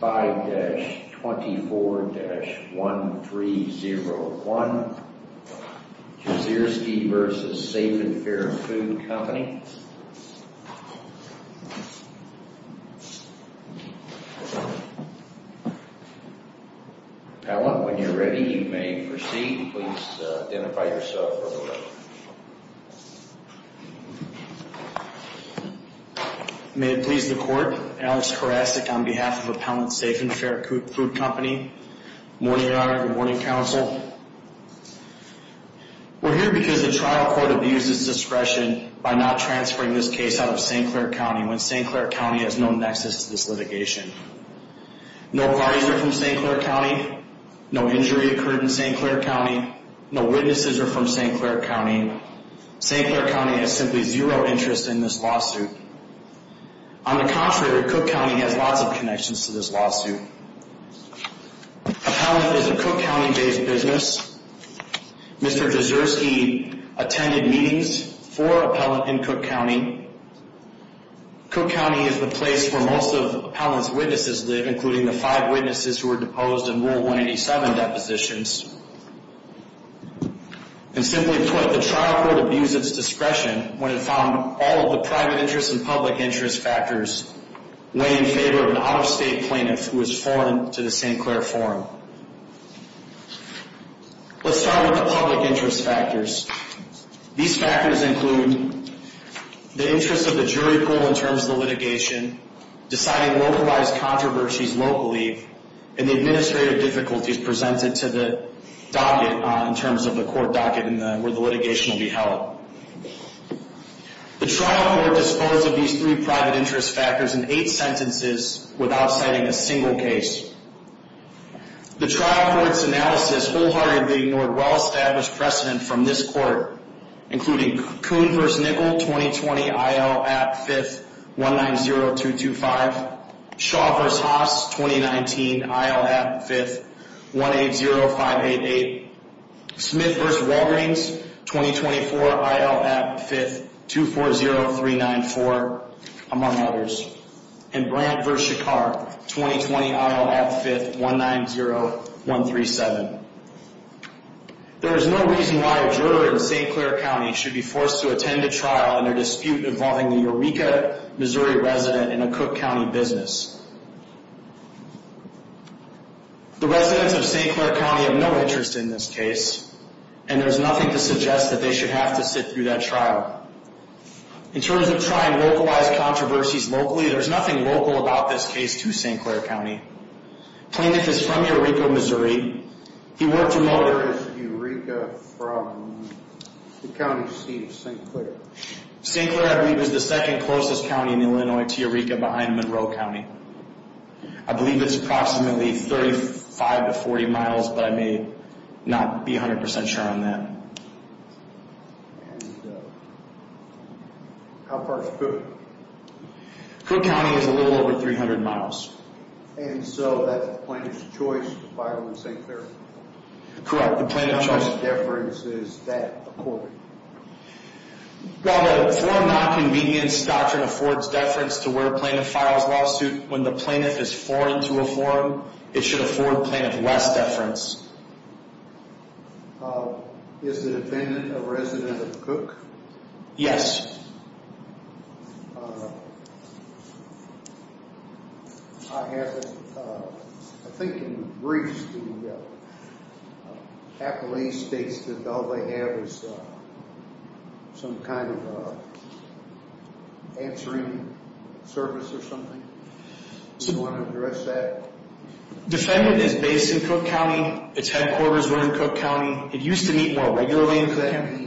5-24-1301 Zierski v. Safe & Fair Food Company Appellant, when you're ready, you may proceed. Please identify yourself for the record. May it please the court, Alex Karasik on behalf of Appellant, Safe & Fair Food Company. Good morning, Your Honor. Good morning, Counsel. We're here because the trial court abuses discretion by not transferring this case out of St. Clair County when St. Clair County has no nexus to this litigation. No parties are from St. Clair County. No injury occurred in St. Clair County. No witnesses are from St. Clair County. St. Clair County has simply zero interest in this lawsuit. On the contrary, Cook County has lots of connections to this lawsuit. Appellant is a Cook County-based business. Mr. Zierski attended meetings for Appellant in Cook County. Cook County is the place where most of Appellant's witnesses live, including the five witnesses who were deposed in Rule 187 depositions. And simply put, the trial court abused its discretion when it found all of the private interest and public interest factors weigh in favor of an out-of-state plaintiff who was foreign to the St. Clair Forum. Let's start with the public interest factors. These factors include the interest of the jury pool in terms of the litigation, deciding localized controversies locally, and the administrative difficulties presented to the docket in terms of the court docket where the litigation will be held. The trial court disposed of these three private interest factors in eight sentences without citing a single case. The trial court's analysis wholeheartedly ignored well-established precedent from this court, including Coon v. Nickel, 2020, I.L. at 5th, 190225, Shaw v. Haas, 2019, I.L. at 5th, 180588, Smith v. Walgreens, 2024, I.L. at 5th, 240394, among others, and Brandt v. Shekar, 2020, I.L. at 5th, 190137. There is no reason why a juror in St. Clair County should be forced to attend a trial in a dispute involving a Eureka, Missouri, resident in a Cook County business. The residents of St. Clair County have no interest in this case, and there's nothing to suggest that they should have to sit through that trial. In terms of trying localized controversies locally, there's nothing local about this case to St. Clair County. Plaintiff is from Eureka, Missouri. He worked in motorist Eureka from the county seat of St. Clair. St. Clair, I believe, is the second closest county in Illinois to Eureka behind Monroe County. I believe it's approximately 35 to 40 miles, but I may not be 100% sure on that. How far is Cook? Cook County is a little over 300 miles. And so that's the plaintiff's choice to file in St. Clair? Correct, the plaintiff's choice. Deference, is that accorded? Well, the Foreign Nonconvenience Doctrine affords deference to where a plaintiff files lawsuit. When the plaintiff is foreign to a forum, it should afford plaintiff less deference. Is the defendant a resident of Cook? Yes. I have, I think in the briefs, the appellee states that all they have is some kind of answering service or something. Do you want to address that? Defendant is based in Cook County. Its headquarters were in Cook County. It used to meet more regularly in Cook County.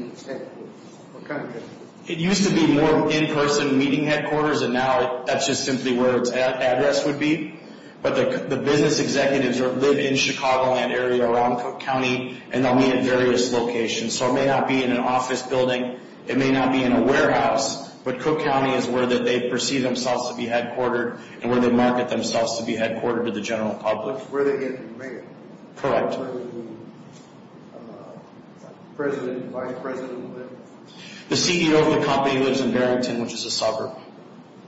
What kind of headquarters? It used to be more in-person meeting headquarters, and now that's just simply where its address would be. But the business executives live in the Chicagoland area around Cook County, and they'll meet at various locations. So it may not be in an office building. It may not be in a warehouse. But Cook County is where they perceive themselves to be headquartered and where they market themselves to be headquartered to the general public. Where they get the mayor? Correct. Where the president and vice president live? The CEO of the company lives in Barrington, which is a suburb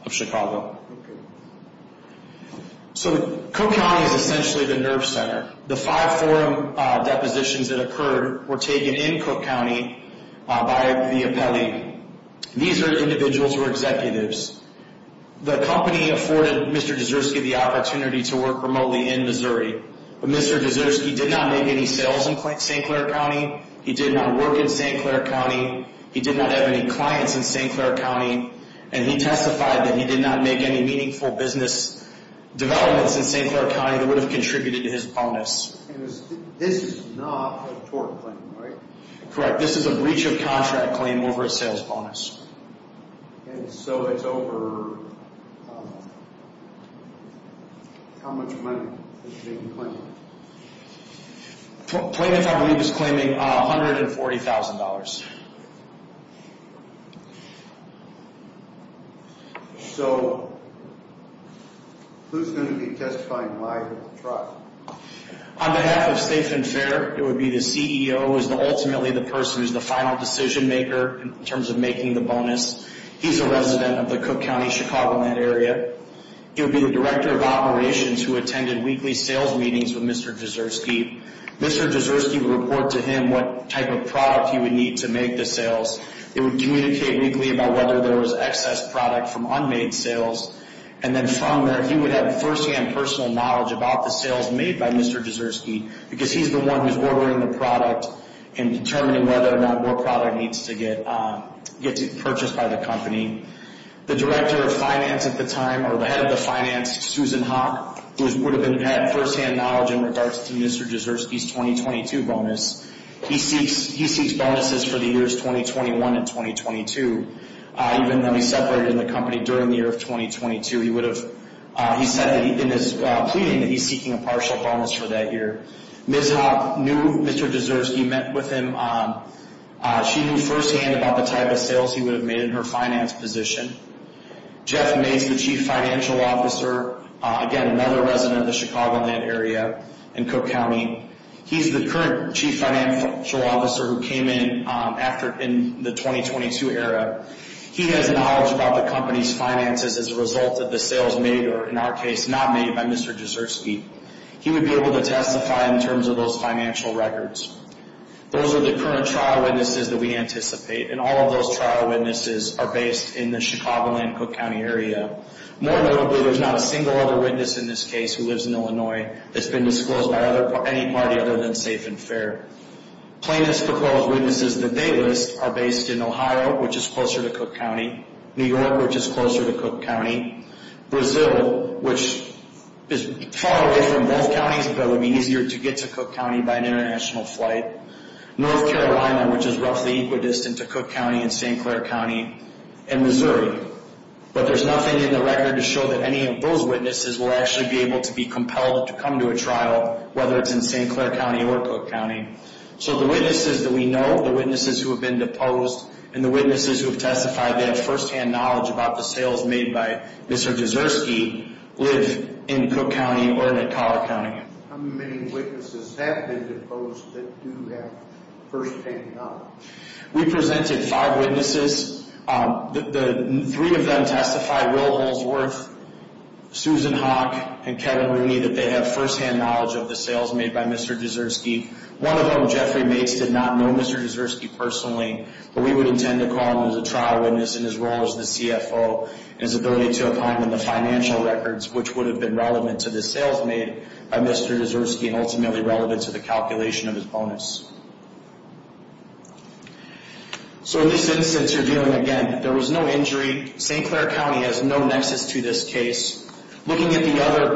of Chicago. Okay. So Cook County is essentially the nerve center. The five forum depositions that occurred were taken in Cook County by the appellee. These are individuals who are executives. The company afforded Mr. Dzirsky the opportunity to work remotely in Missouri, but Mr. Dzirsky did not make any sales in St. Clair County. He did not work in St. Clair County. He did not have any clients in St. Clair County. And he testified that he did not make any meaningful business developments in St. Clair County that would have contributed to his bonus. And this is not a tort claim, right? Correct. This is a breach of contract claim over a sales bonus. And so it's over how much money? Claimant, I believe, is claiming $140,000. So who's going to be testifying live at the trial? On behalf of State FinFair, it would be the CEO who is ultimately the person who's the final decision maker in terms of making the bonus. He's a resident of the Cook County, Chicagoland area. He would be the director of operations who attended weekly sales meetings with Mr. Dzirsky. Mr. Dzirsky would report to him what type of product he would need to make the sales. He would communicate weekly about whether there was excess product from unmade sales. And then from there, he would have firsthand personal knowledge about the sales made by Mr. Dzirsky, because he's the one who's ordering the product and determining whether or not more product needs to get purchased by the company. The director of finance at the time, or the head of the finance, Susan Hock, would have had firsthand knowledge in regards to Mr. Dzirsky's 2022 bonus. He seeks bonuses for the years 2021 and 2022. Even though he separated the company during the year of 2022, he said in his pleading that he's seeking a partial bonus for that year. Ms. Hock knew Mr. Dzirsky, met with him. She knew firsthand about the type of sales he would have made in her finance position. Jeff Mays, the chief financial officer, again, another resident of the Chicagoland area in Cook County. He's the current chief financial officer who came in after in the 2022 era. He has knowledge about the company's finances as a result of the sales made, or in our case, not made by Mr. Dzirsky. He would be able to testify in terms of those financial records. Those are the current trial witnesses that we anticipate, and all of those trial witnesses are based in the Chicagoland Cook County area. More notably, there's not a single other witness in this case who lives in Illinois that's been disclosed by any party other than Safe and Fair. Plaintiffs' proposed witnesses that they list are based in Ohio, which is closer to Cook County, New York, which is closer to Cook County, Brazil, which is far away from both counties, but would be easier to get to Cook County by an international flight, North Carolina, which is roughly equidistant to Cook County and St. Clair County, and Missouri. But there's nothing in the record to show that any of those witnesses will actually be able to be compelled to come to a trial, whether it's in St. Clair County or Cook County. So the witnesses that we know, the witnesses who have been deposed, and the witnesses who have testified, they have first-hand knowledge about the sales made by Mr. Dzirsky, live in Cook County or in Colorado County. How many witnesses have been deposed that do have first-hand knowledge? We presented five witnesses. Three of them testified, Will Holdsworth, Susan Hawk, and Kevin Rooney, that they have first-hand knowledge of the sales made by Mr. Dzirsky. One of them, Jeffrey Mates, did not know Mr. Dzirsky personally, but we would intend to call him as a trial witness in his role as the CFO, and his ability to opine on the financial records, which would have been relevant to the sales made by Mr. Dzirsky and ultimately relevant to the calculation of his bonus. So in this instance, you're dealing, again, there was no injury. St. Clair County has no nexus to this case. Looking at the other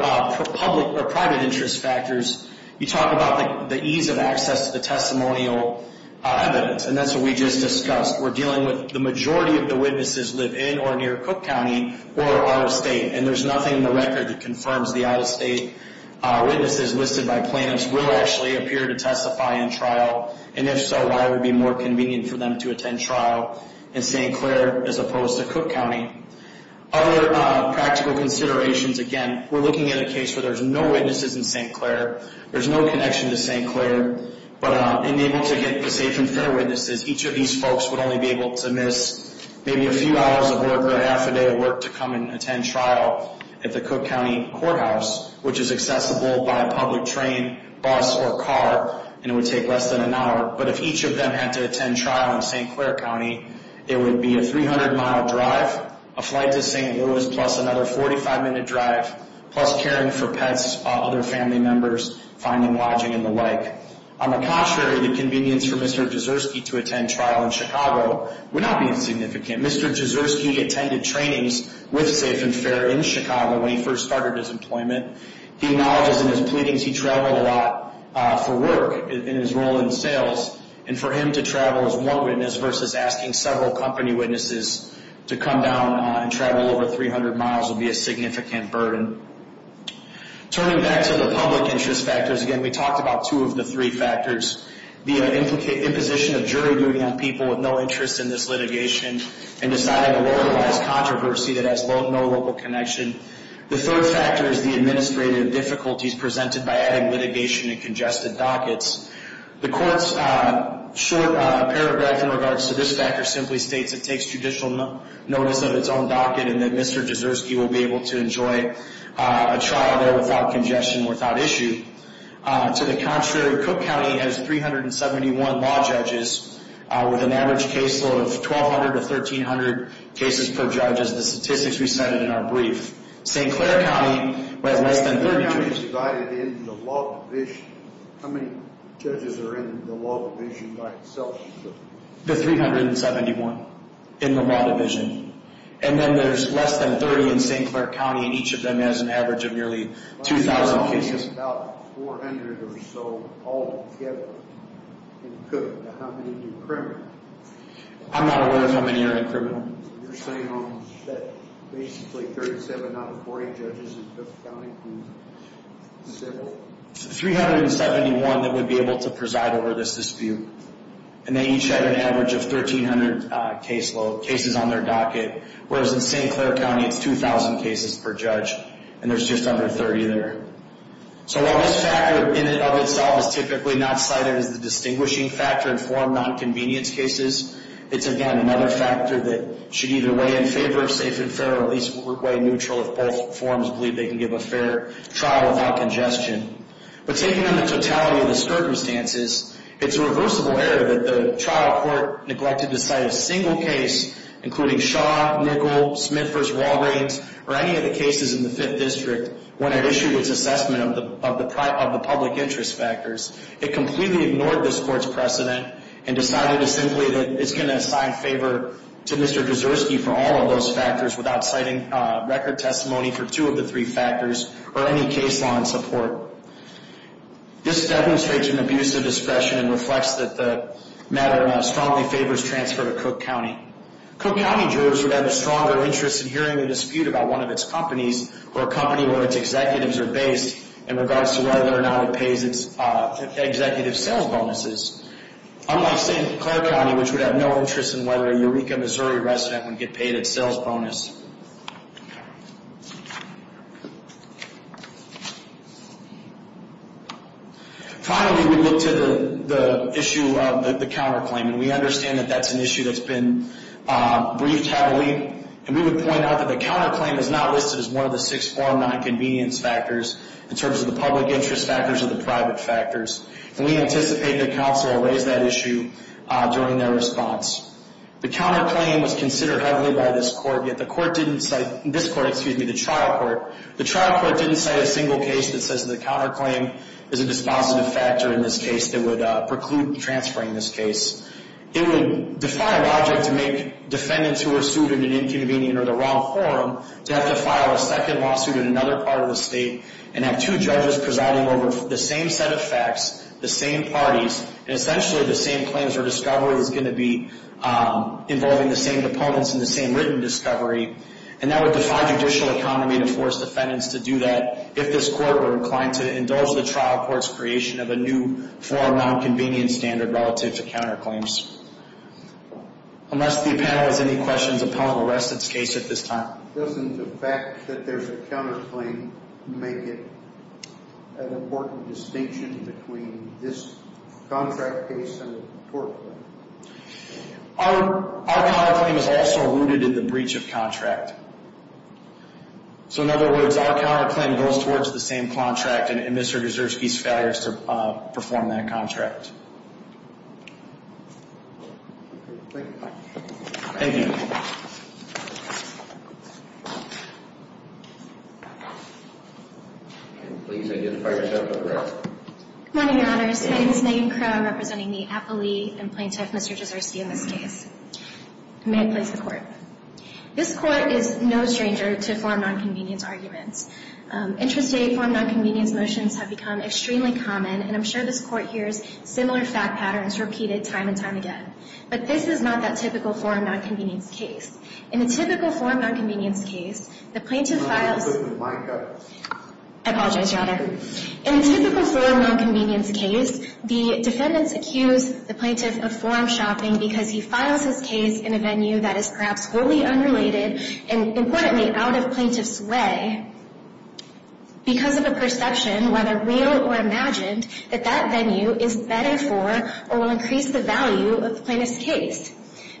public or private interest factors, you talk about the ease of access to the testimonial evidence, and that's what we just discussed. We're dealing with the majority of the witnesses live in or near Cook County or out of state, and there's nothing in the record that confirms the out-of-state witnesses listed by plaintiffs will actually appear to testify in trial, and if so, why it would be more convenient for them to attend trial in St. Clair as opposed to Cook County. Other practical considerations, again, we're looking at a case where there's no witnesses in St. Clair, there's no connection to St. Clair, but unable to get the safe and fair witnesses, each of these folks would only be able to miss maybe a few hours of work or half a day of work to come and attend trial at the Cook County Courthouse, which is accessible by public train, bus, or car, and it would take less than an hour, but if each of them had to attend trial in St. Clair County, it would be a 300-mile drive, a flight to St. Louis, plus another 45-minute drive, plus caring for pets, other family members, finding lodging, and the like. On the contrary, the convenience for Mr. Jizerski to attend trial in Chicago would not be insignificant. Mr. Jizerski attended trainings with Safe and Fair in Chicago when he first started his employment. He acknowledges in his pleadings he traveled a lot for work in his role in sales, and for him to travel as one witness versus asking several company witnesses to come down and travel over 300 miles would be a significant burden. Turning back to the public interest factors, again, we talked about two of the three factors, the imposition of jury duty on people with no interest in this litigation, and deciding to localize controversy that has no local connection. The third factor is the administrative difficulties presented by adding litigation and congested dockets. The court's short paragraph in regards to this factor simply states it takes judicial notice of its own docket and that Mr. Jizerski will be able to enjoy a trial there without congestion, without issue. To the contrary, Cook County has 371 law judges with an average caseload of 1,200 to 1,300 cases per judge, as the statistics we cited in our brief. St. Clair County has less than 30 judges. St. Clair County is divided into the law division. How many judges are in the law division by itself? There's 371 in the law division, and then there's less than 30 in St. Clair County, and each of them has an average of nearly 2,000 cases. That's probably about 400 or so altogether in Cook. Now, how many are in criminal? I'm not aware of how many are in criminal. You're saying that basically 37 out of 48 judges in Cook County? There's 371 that would be able to preside over this dispute, and they each have an average of 1,300 cases on their docket, whereas in St. Clair County it's 2,000 cases per judge, and there's just under 30 there. So while this factor in and of itself is typically not cited as the distinguishing factor in four nonconvenience cases, it's, again, another factor that should either weigh in favor of safe and fair or at least weigh neutral if both forms believe they can give a fair trial without congestion. But taking on the totality of the circumstances, it's a reversible error that the trial court neglected to cite a single case, including Shaw, Nickel, Smith v. Walgreens, or any of the cases in the Fifth District when it issued its assessment of the public interest factors. It completely ignored this court's precedent and decided simply that it's going to assign favor to Mr. Kucerski for all of those factors without citing record testimony for two of the three factors or any case law in support. This demonstrates an abuse of discretion and reflects that the matter strongly favors transfer to Cook County. Cook County jurors would have a stronger interest in hearing a dispute about one of its companies or a company where its executives are based in regards to whether or not it pays its executive sales bonuses, unlike, say, Clark County, which would have no interest in whether a Eureka, Missouri, resident would get paid its sales bonus. Finally, we look to the issue of the counterclaim, and we understand that that's an issue that's been briefed heavily, and we would point out that the counterclaim is not listed as one of the six form nonconvenience factors in terms of the public interest factors or the private factors, and we anticipate that counsel will raise that issue during their response. The counterclaim was considered heavily by this court, yet the court didn't cite, this court, excuse me, the trial court. The trial court didn't cite a single case that says that the counterclaim is a dispositive factor in this case that would preclude transferring this case. It would defy logic to make defendants who were sued in an inconvenient or the wrong forum to have to file a second lawsuit in another part of the state and have two judges presiding over the same set of facts, the same parties, and essentially the same claims or discovery that's going to be involving the same opponents and the same written discovery, and that would defy judicial economy to force defendants to do that if this court were inclined to indulge the trial court's creation of a new form nonconvenience standard relative to counterclaims. Unless the panel has any questions upon the rest of the case at this time. Doesn't the fact that there's a counterclaim make it an important distinction between this contract case and a tort claim? Our counterclaim is also rooted in the breach of contract. So in other words, our counterclaim goes towards the same contract and Mr. Desersky's failure to perform that contract. Thank you. Please identify yourself and address. Good morning, Your Honors. My name is Megan Crowe, representing the appellee and plaintiff, Mr. Desersky, in this case. May it please the Court. This Court is no stranger to forum nonconvenience arguments. Interest-based forum nonconvenience motions have become extremely common, and I'm sure this Court hears similar fact patterns repeated time and time again. But this is not that typical forum nonconvenience case. In a typical forum nonconvenience case, the plaintiff files I apologize, Your Honor. In a typical forum nonconvenience case, the defendants accuse the plaintiff of forum shopping because he files his case in a venue that is perhaps wholly unrelated and, importantly, out of plaintiff's way because of a perception, whether real or imagined, that that venue is better for or will increase the value of the plaintiff's case.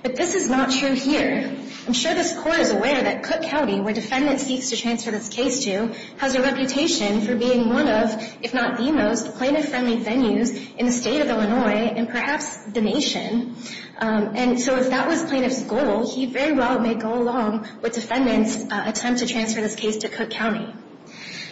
But this is not true here. I'm sure this Court is aware that Cook County, where defendant seeks to transfer this case to, has a reputation for being one of, if not the most, plaintiff-friendly venues in the state of Illinois and perhaps the nation. And so if that was plaintiff's goal, he very well may go along with defendant's attempt to transfer this case to Cook County.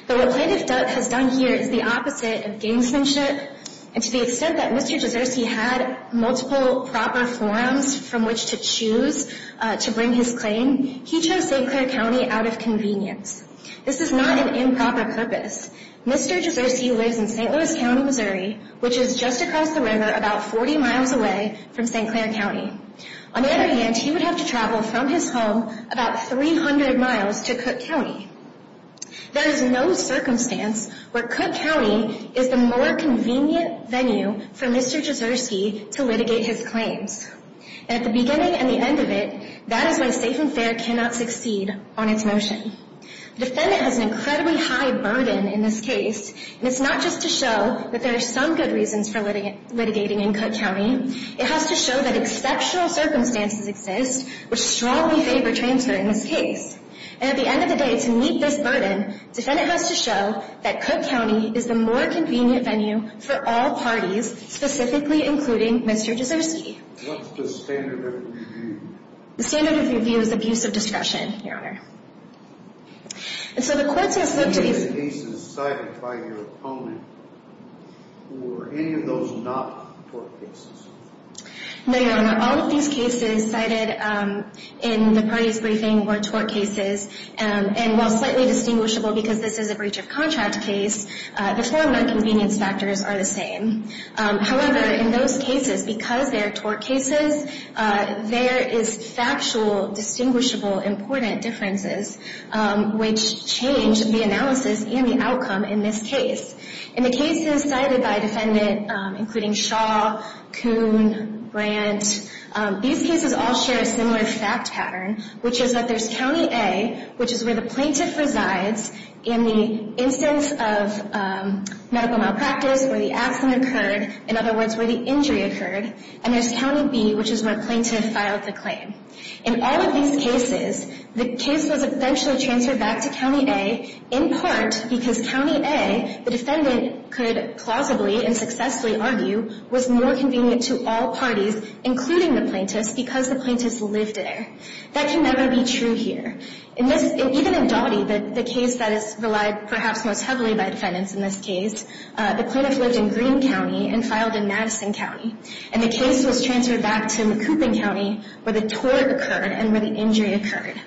But what Plaintiff Duck has done here is the opposite of gamesmanship. And to the extent that Mr. Gesserse had multiple proper forums from which to choose to bring his claim, he chose St. Clair County out of convenience. This is not an improper purpose. Mr. Gesserse lives in St. Louis County, Missouri, which is just across the river about 40 miles away from St. Clair County. On the other hand, he would have to travel from his home about 300 miles to Cook County. There is no circumstance where Cook County is the more convenient venue for Mr. Gesserse to litigate his claims. And at the beginning and the end of it, that is why Safe and Fair cannot succeed on its motion. The defendant has an incredibly high burden in this case, and it's not just to show that there are some good reasons for litigating in Cook County. It has to show that exceptional circumstances exist which strongly favor transferring this case. And at the end of the day, to meet this burden, defendant has to show that Cook County is the more convenient venue for all parties, specifically including Mr. Gesserse. What's the standard of review? The standard of review is abuse of discretion, Your Honor. And so the court has looked to these- Were any of the cases cited by your opponent, were any of those not tort cases? No, Your Honor. All of these cases cited in the parties' briefing were tort cases. And while slightly distinguishable because this is a breach of contract case, the four nonconvenience factors are the same. However, in those cases, because they are tort cases, there is factual, distinguishable, important differences, which change the analysis and the outcome in this case. In the cases cited by a defendant, including Shaw, Coon, Brandt, these cases all share a similar fact pattern, which is that there's County A, which is where the plaintiff resides, in the instance of medical malpractice, where the accident occurred, in other words, where the injury occurred. And there's County B, which is where the plaintiff filed the claim. In all of these cases, the case was eventually transferred back to County A, in part because County A, the defendant could plausibly and successfully argue, was more convenient to all parties, including the plaintiffs, because the plaintiffs lived there. That can never be true here. Even in Doty, the case that is relied perhaps most heavily by defendants in this case, the plaintiff lived in Greene County and filed in Madison County. And the case was transferred back to Macoupin County, where the tort occurred and where the injury occurred.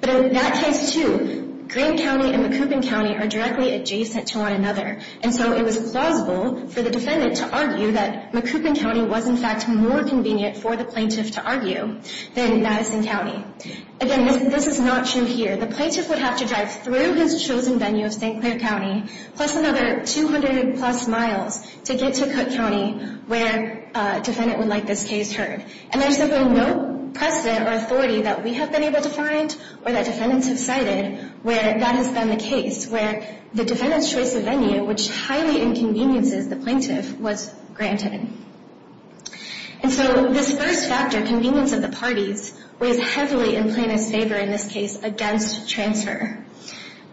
But in that case, too, Greene County and Macoupin County are directly adjacent to one another. And so it was plausible for the defendant to argue that Macoupin County was, in fact, more convenient for the plaintiff to argue than Madison County. Again, this is not true here. The plaintiff would have to drive through his chosen venue of St. Clair County, plus another 200-plus miles to get to Cook County, where a defendant would like this case heard. And there's simply no precedent or authority that we have been able to find or that defendants have cited where that has been the case, where the defendant's choice of venue, which highly inconveniences the plaintiff, was granted. And so this first factor, convenience of the parties, weighs heavily in plaintiff's favor in this case against transfer.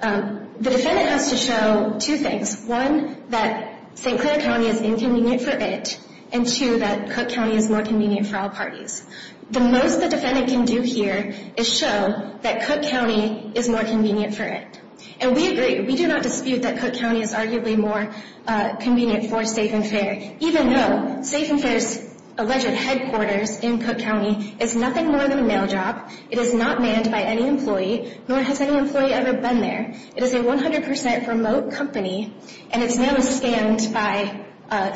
The defendant has to show two things. One, that St. Clair County is inconvenient for it, and two, that Cook County is more convenient for all parties. The most the defendant can do here is show that Cook County is more convenient for it. And we agree. We do not dispute that Cook County is arguably more convenient for safe and fair, even though safe and fair's alleged headquarters in Cook County is nothing more than a mail drop. It is not manned by any employee, nor has any employee ever been there. It is a 100 percent remote company, and it's now scanned by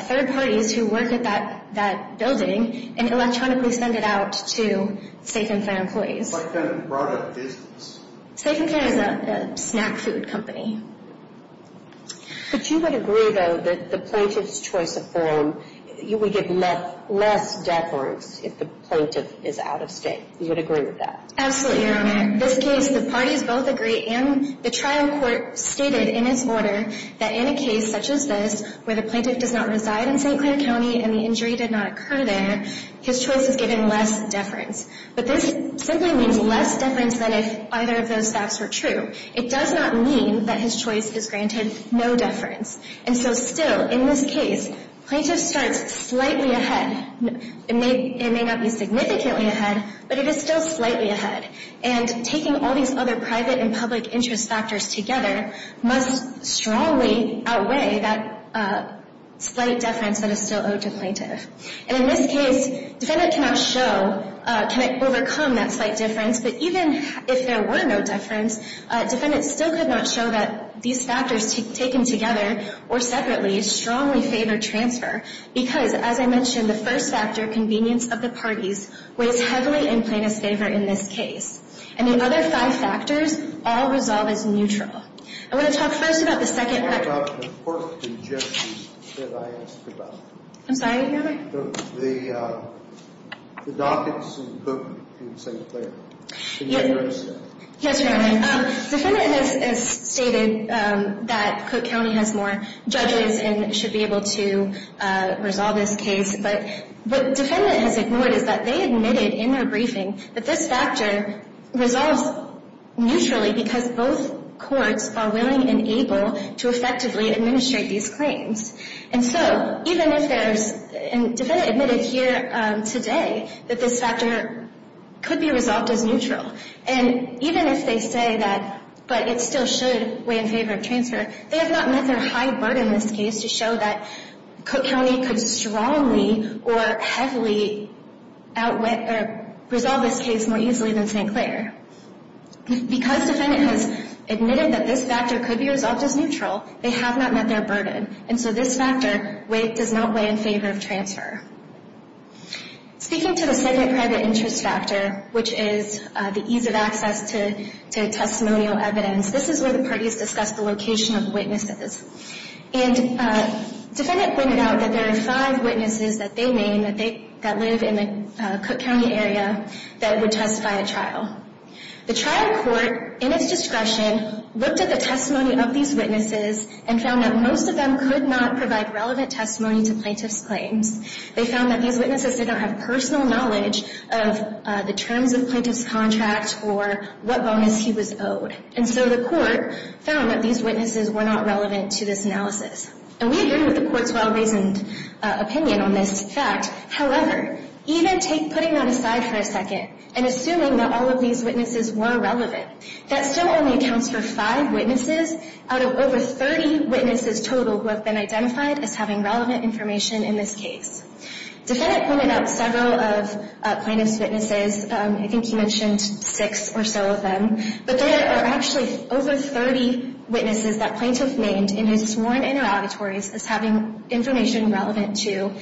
third parties who work at that building and electronically send it out to safe and fair employees. What kind of product is this? Safe and fair is a snack food company. But you would agree, though, that the plaintiff's choice of form, you would get less deference if the plaintiff is out of state. You would agree with that? Absolutely, Your Honor. In this case, the parties both agree, and the trial court stated in its order, that in a case such as this, where the plaintiff does not reside in St. Clair County and the injury did not occur there, his choice is given less deference. But this simply means less deference than if either of those facts were true. It does not mean that his choice is granted no deference. And so still, in this case, plaintiff starts slightly ahead. It may not be significantly ahead, but it is still slightly ahead. And taking all these other private and public interest factors together must strongly outweigh that slight deference that is still owed to plaintiff. And in this case, defendant cannot show, cannot overcome that slight deference, but even if there were no deference, defendant still could not show that these factors taken together or separately strongly favor transfer. Because, as I mentioned, the first factor, convenience of the parties, weighs heavily in plaintiff's favor in this case. And the other five factors all resolve as neutral. I want to talk first about the second record. What about the court and judges that I asked about? I'm sorry, Your Honor? The dockets in Cook and St. Clair. Yes, Your Honor. Defendant has stated that Cook County has more judges and should be able to resolve this case, but what defendant has ignored is that they admitted in their briefing that this factor resolves neutrally because both courts are willing and able to effectively administrate these claims. And so even if there's, and defendant admitted here today, that this factor could be resolved as neutral. And even if they say that, but it still should weigh in favor of transfer, they have not met their high burden in this case to show that Cook County could strongly or heavily resolve this case more easily than St. Clair. Because defendant has admitted that this factor could be resolved as neutral, they have not met their burden. And so this factor does not weigh in favor of transfer. Speaking to the second private interest factor, which is the ease of access to testimonial evidence, this is where the parties discuss the location of witnesses. And defendant pointed out that there are five witnesses that they name that live in the Cook County area that would testify at trial. The trial court, in its discretion, looked at the testimony of these witnesses and found that most of them could not provide relevant testimony to plaintiff's claims. They found that these witnesses did not have personal knowledge of the terms of plaintiff's contract or what bonus he was owed. And so the court found that these witnesses were not relevant to this analysis. And we agree with the court's well-reasoned opinion on this fact. However, even putting that aside for a second and assuming that all of these witnesses were relevant, that still only accounts for five witnesses out of over 30 witnesses total who have been identified as having relevant information in this case. Defendant pointed out several of plaintiff's witnesses. I think he mentioned six or so of them. But there are actually over 30 witnesses that plaintiff named in his sworn interrogatories as having information relevant to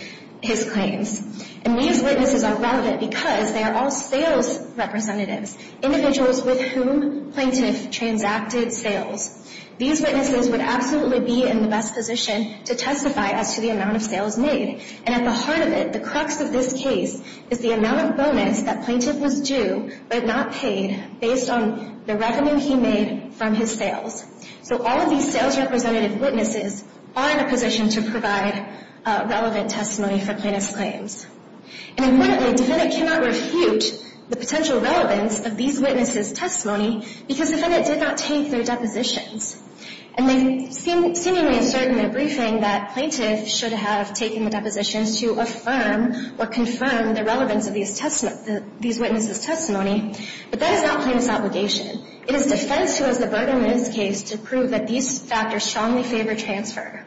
his claims. And these witnesses are relevant because they are all sales representatives, individuals with whom plaintiff transacted sales. These witnesses would absolutely be in the best position to testify as to the amount of sales made. And at the heart of it, the crux of this case, is the amount of bonus that plaintiff was due but not paid based on the revenue he made from his sales. So all of these sales representative witnesses are in a position to provide relevant testimony for plaintiff's claims. And importantly, defendant cannot refute the potential relevance of these witnesses' testimony because defendant did not take their depositions. And they seemingly assert in their briefing that plaintiff should have taken the depositions to affirm or confirm the relevance of these witnesses' testimony. But that is not plaintiff's obligation. It is defense who has the burden in this case to prove that these factors strongly favor transfer.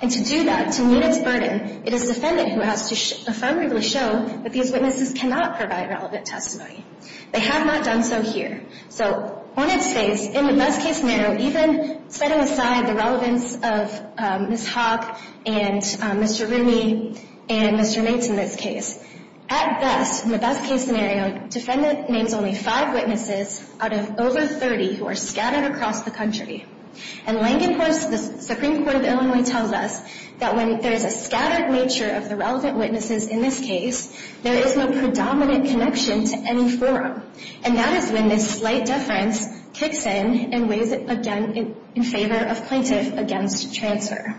And to do that, to meet its burden, it is defendant who has to affirmatively show that these witnesses cannot provide relevant testimony. They have not done so here. So on its face, in the best-case scenario, even setting aside the relevance of Ms. Hawk and Mr. Rooney and Mr. Nates in this case, at best, in the best-case scenario, defendant names only five witnesses out of over 30 who are scattered across the country. And Langenhorst, the Supreme Court of Illinois, tells us that when there is a scattered nature of the relevant witnesses in this case, there is no predominant connection to any forum. And that is when this slight deference kicks in and weighs in favor of plaintiff against transfer.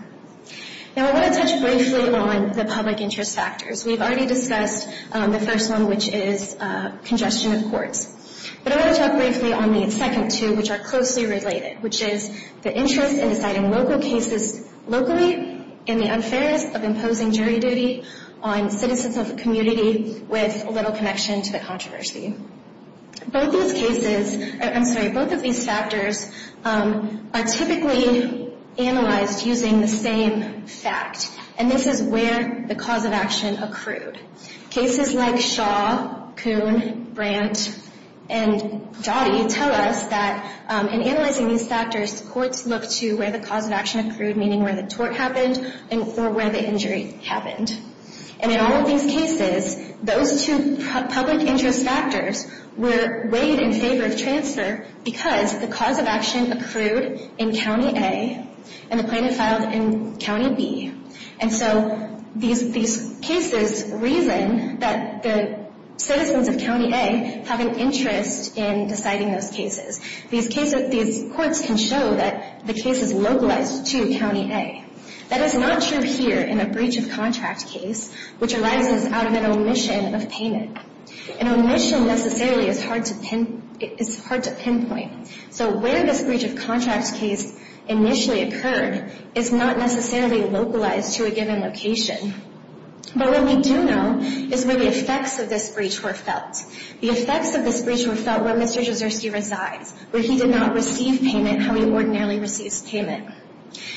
Now, I want to touch briefly on the public interest factors. We've already discussed the first one, which is congestion of courts. But I want to talk briefly on the second two, which are closely related, which is the interest in deciding local cases locally and the unfairness of imposing jury duty on citizens of the community with little connection to the controversy. Both of these factors are typically analyzed using the same fact, and this is where the cause of action accrued. Cases like Shaw, Coon, Brandt, and Dottie tell us that in analyzing these factors, courts look to where the cause of action accrued, meaning where the tort happened or where the injury happened. And in all of these cases, those two public interest factors were weighed in favor of transfer because the cause of action accrued in County A and the plaintiff filed in County B. And so these cases reason that the citizens of County A have an interest in deciding those cases. These courts can show that the case is localized to County A. That is not true here in a breach of contract case, which arises out of an omission of payment. An omission necessarily is hard to pinpoint. So where this breach of contract case initially occurred is not necessarily localized to a given location. But what we do know is where the effects of this breach were felt. The effects of this breach were felt where Mr. Jizerski resides, where he did not receive payment how he ordinarily receives payment,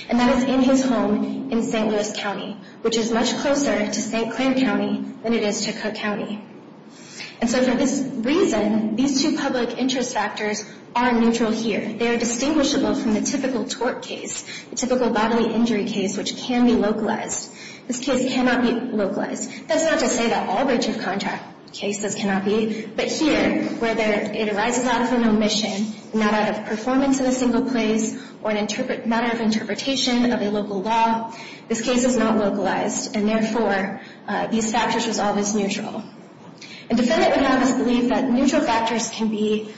and that is in his home in St. Louis County, which is much closer to St. Clair County than it is to Cook County. And so for this reason, these two public interest factors are neutral here. They are distinguishable from the typical tort case, the typical bodily injury case, which can be localized. This case cannot be localized. That's not to say that all breach of contract cases cannot be, but here, whether it arises out of an omission, not out of performance in a single place, or a matter of interpretation of a local law, this case is not localized, and therefore, these factors are always neutral. A defendant would have us believe that neutral factors can be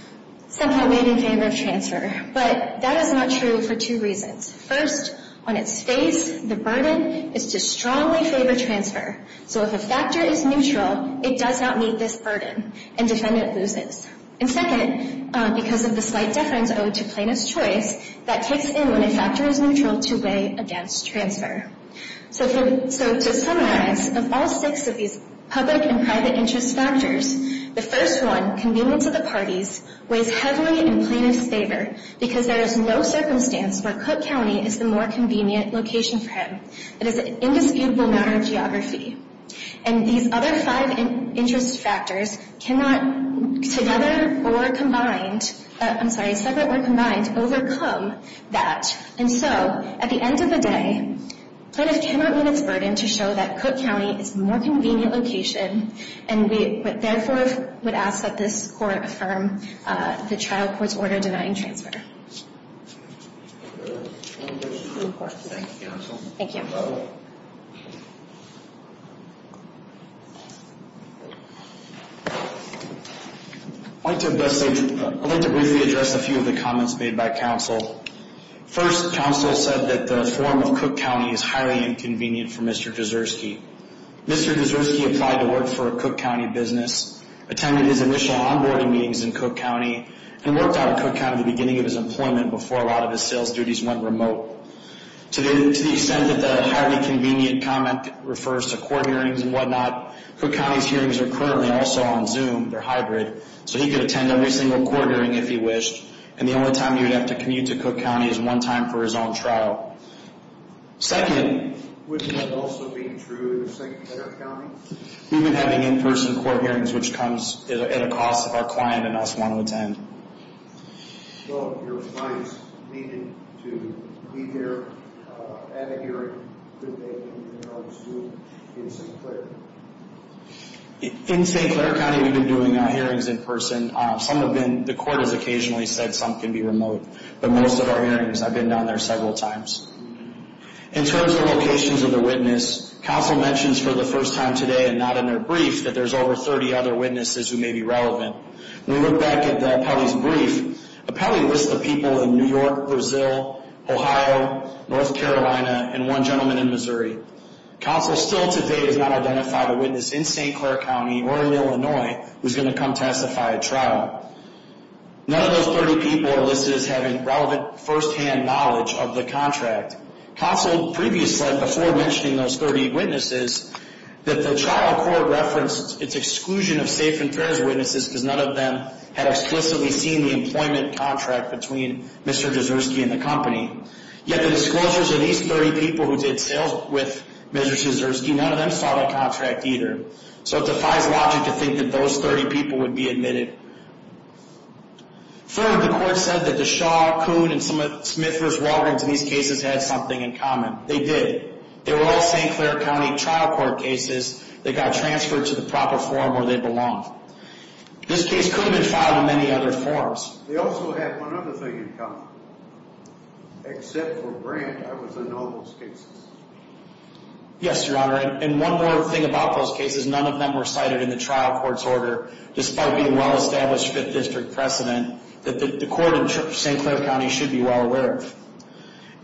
somehow made in favor of transfer, but that is not true for two reasons. First, on its face, the burden is to strongly favor transfer. So if a factor is neutral, it does not meet this burden, and defendant loses. And second, because of the slight deference owed to plaintiff's choice, that kicks in when a factor is neutral to weigh against transfer. So to summarize, of all six of these public and private interest factors, the first one, convenience of the parties, weighs heavily in plaintiff's favor because there is no circumstance where Cook County is the more convenient location for him. It is an indisputable matter of geography. And these other five interest factors cannot, together or combined, I'm sorry, separate or combined, overcome that. And so, at the end of the day, plaintiff cannot meet its burden to show that Cook County is the more convenient location, and we therefore would ask that this Court affirm the trial court's order denying transfer. Thank you, Counsel. Thank you. I'd like to briefly address a few of the comments made by Counsel. First, Counsel said that the form of Cook County is highly inconvenient for Mr. Kaczurski. Mr. Kaczurski applied to work for a Cook County business, attended his initial onboarding meetings in Cook County, and worked out of Cook County at the beginning of his employment before a lot of his sales duties went remote. To the extent that the highly convenient comment refers to court hearings and whatnot, Cook County's hearings are currently also on Zoom. So he could attend every single court hearing if he wished, and the only time he would have to commute to Cook County is one time for his own trial. Second, we've been having in-person court hearings, which comes at a cost of our client and us wanting to attend. In St. Clair County, we've been doing hearings in person. Some have been, the court has occasionally said some can be remote, but most of our hearings, I've been down there several times. In terms of locations of the witness, Counsel mentions for the first time today and not in their brief that there's over 30 other witnesses who may be relevant. When we look back at the appellee's brief, the appellee lists the people in New York, Brazil, Ohio, North Carolina, and one gentleman in Missouri. Counsel still today has not identified a witness in St. Clair County or in Illinois who's going to come testify at trial. None of those 30 people are listed as having relevant first-hand knowledge of the contract. Counsel previously said, before mentioning those 30 witnesses, that the trial court referenced its exclusion of safe and fair witnesses because none of them had explicitly seen the employment contract between Mr. Dzirsky and the company. Yet the disclosures of these 30 people who did sales with Mr. Dzirsky, none of them saw the contract either. So it defies logic to think that those 30 people would be admitted. Third, the court said that DeShaw, Coon, and Smith versus Walgreens in these cases had something in common. They did. They were all St. Clair County trial court cases that got transferred to the proper forum where they belonged. This case could have been filed in many other forums. They also had one other thing in common. Except for Brandt, I was in all those cases. Yes, Your Honor, and one more thing about those cases, none of them were cited in the trial court's order, despite being well-established Fifth District precedent that the court in St. Clair County should be well aware of.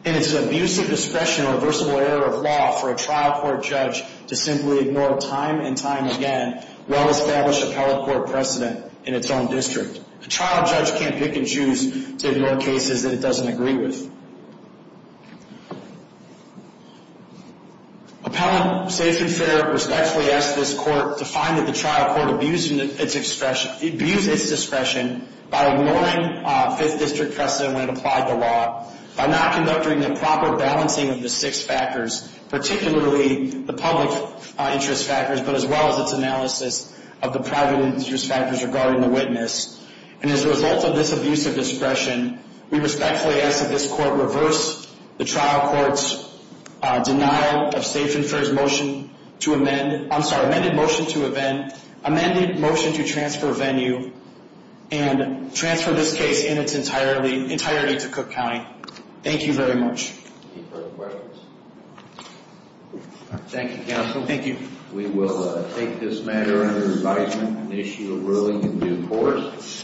And it's an abuse of discretion or reversible error of law for a trial court judge to simply ignore time and time again well-established appellate court precedent in its own district. A trial judge can't pick and choose to ignore cases that it doesn't agree with. Appellant Safe and Fair respectfully asked this court to find that the trial court abused its discretion by ignoring Fifth District precedent when it applied the law, by not conducting the proper balancing of the six factors, particularly the public interest factors, but as well as its analysis of the private interest factors regarding the witness. And as a result of this abuse of discretion, we respectfully ask that this court reverse the trial court's denial of Safe and Fair's motion to amend, I'm sorry, amended motion to amend, and transfer this case in its entirety to Cook County. Thank you very much. Any further questions? Thank you, Counsel. Thank you. We will take this matter under advisement and issue a ruling in due course.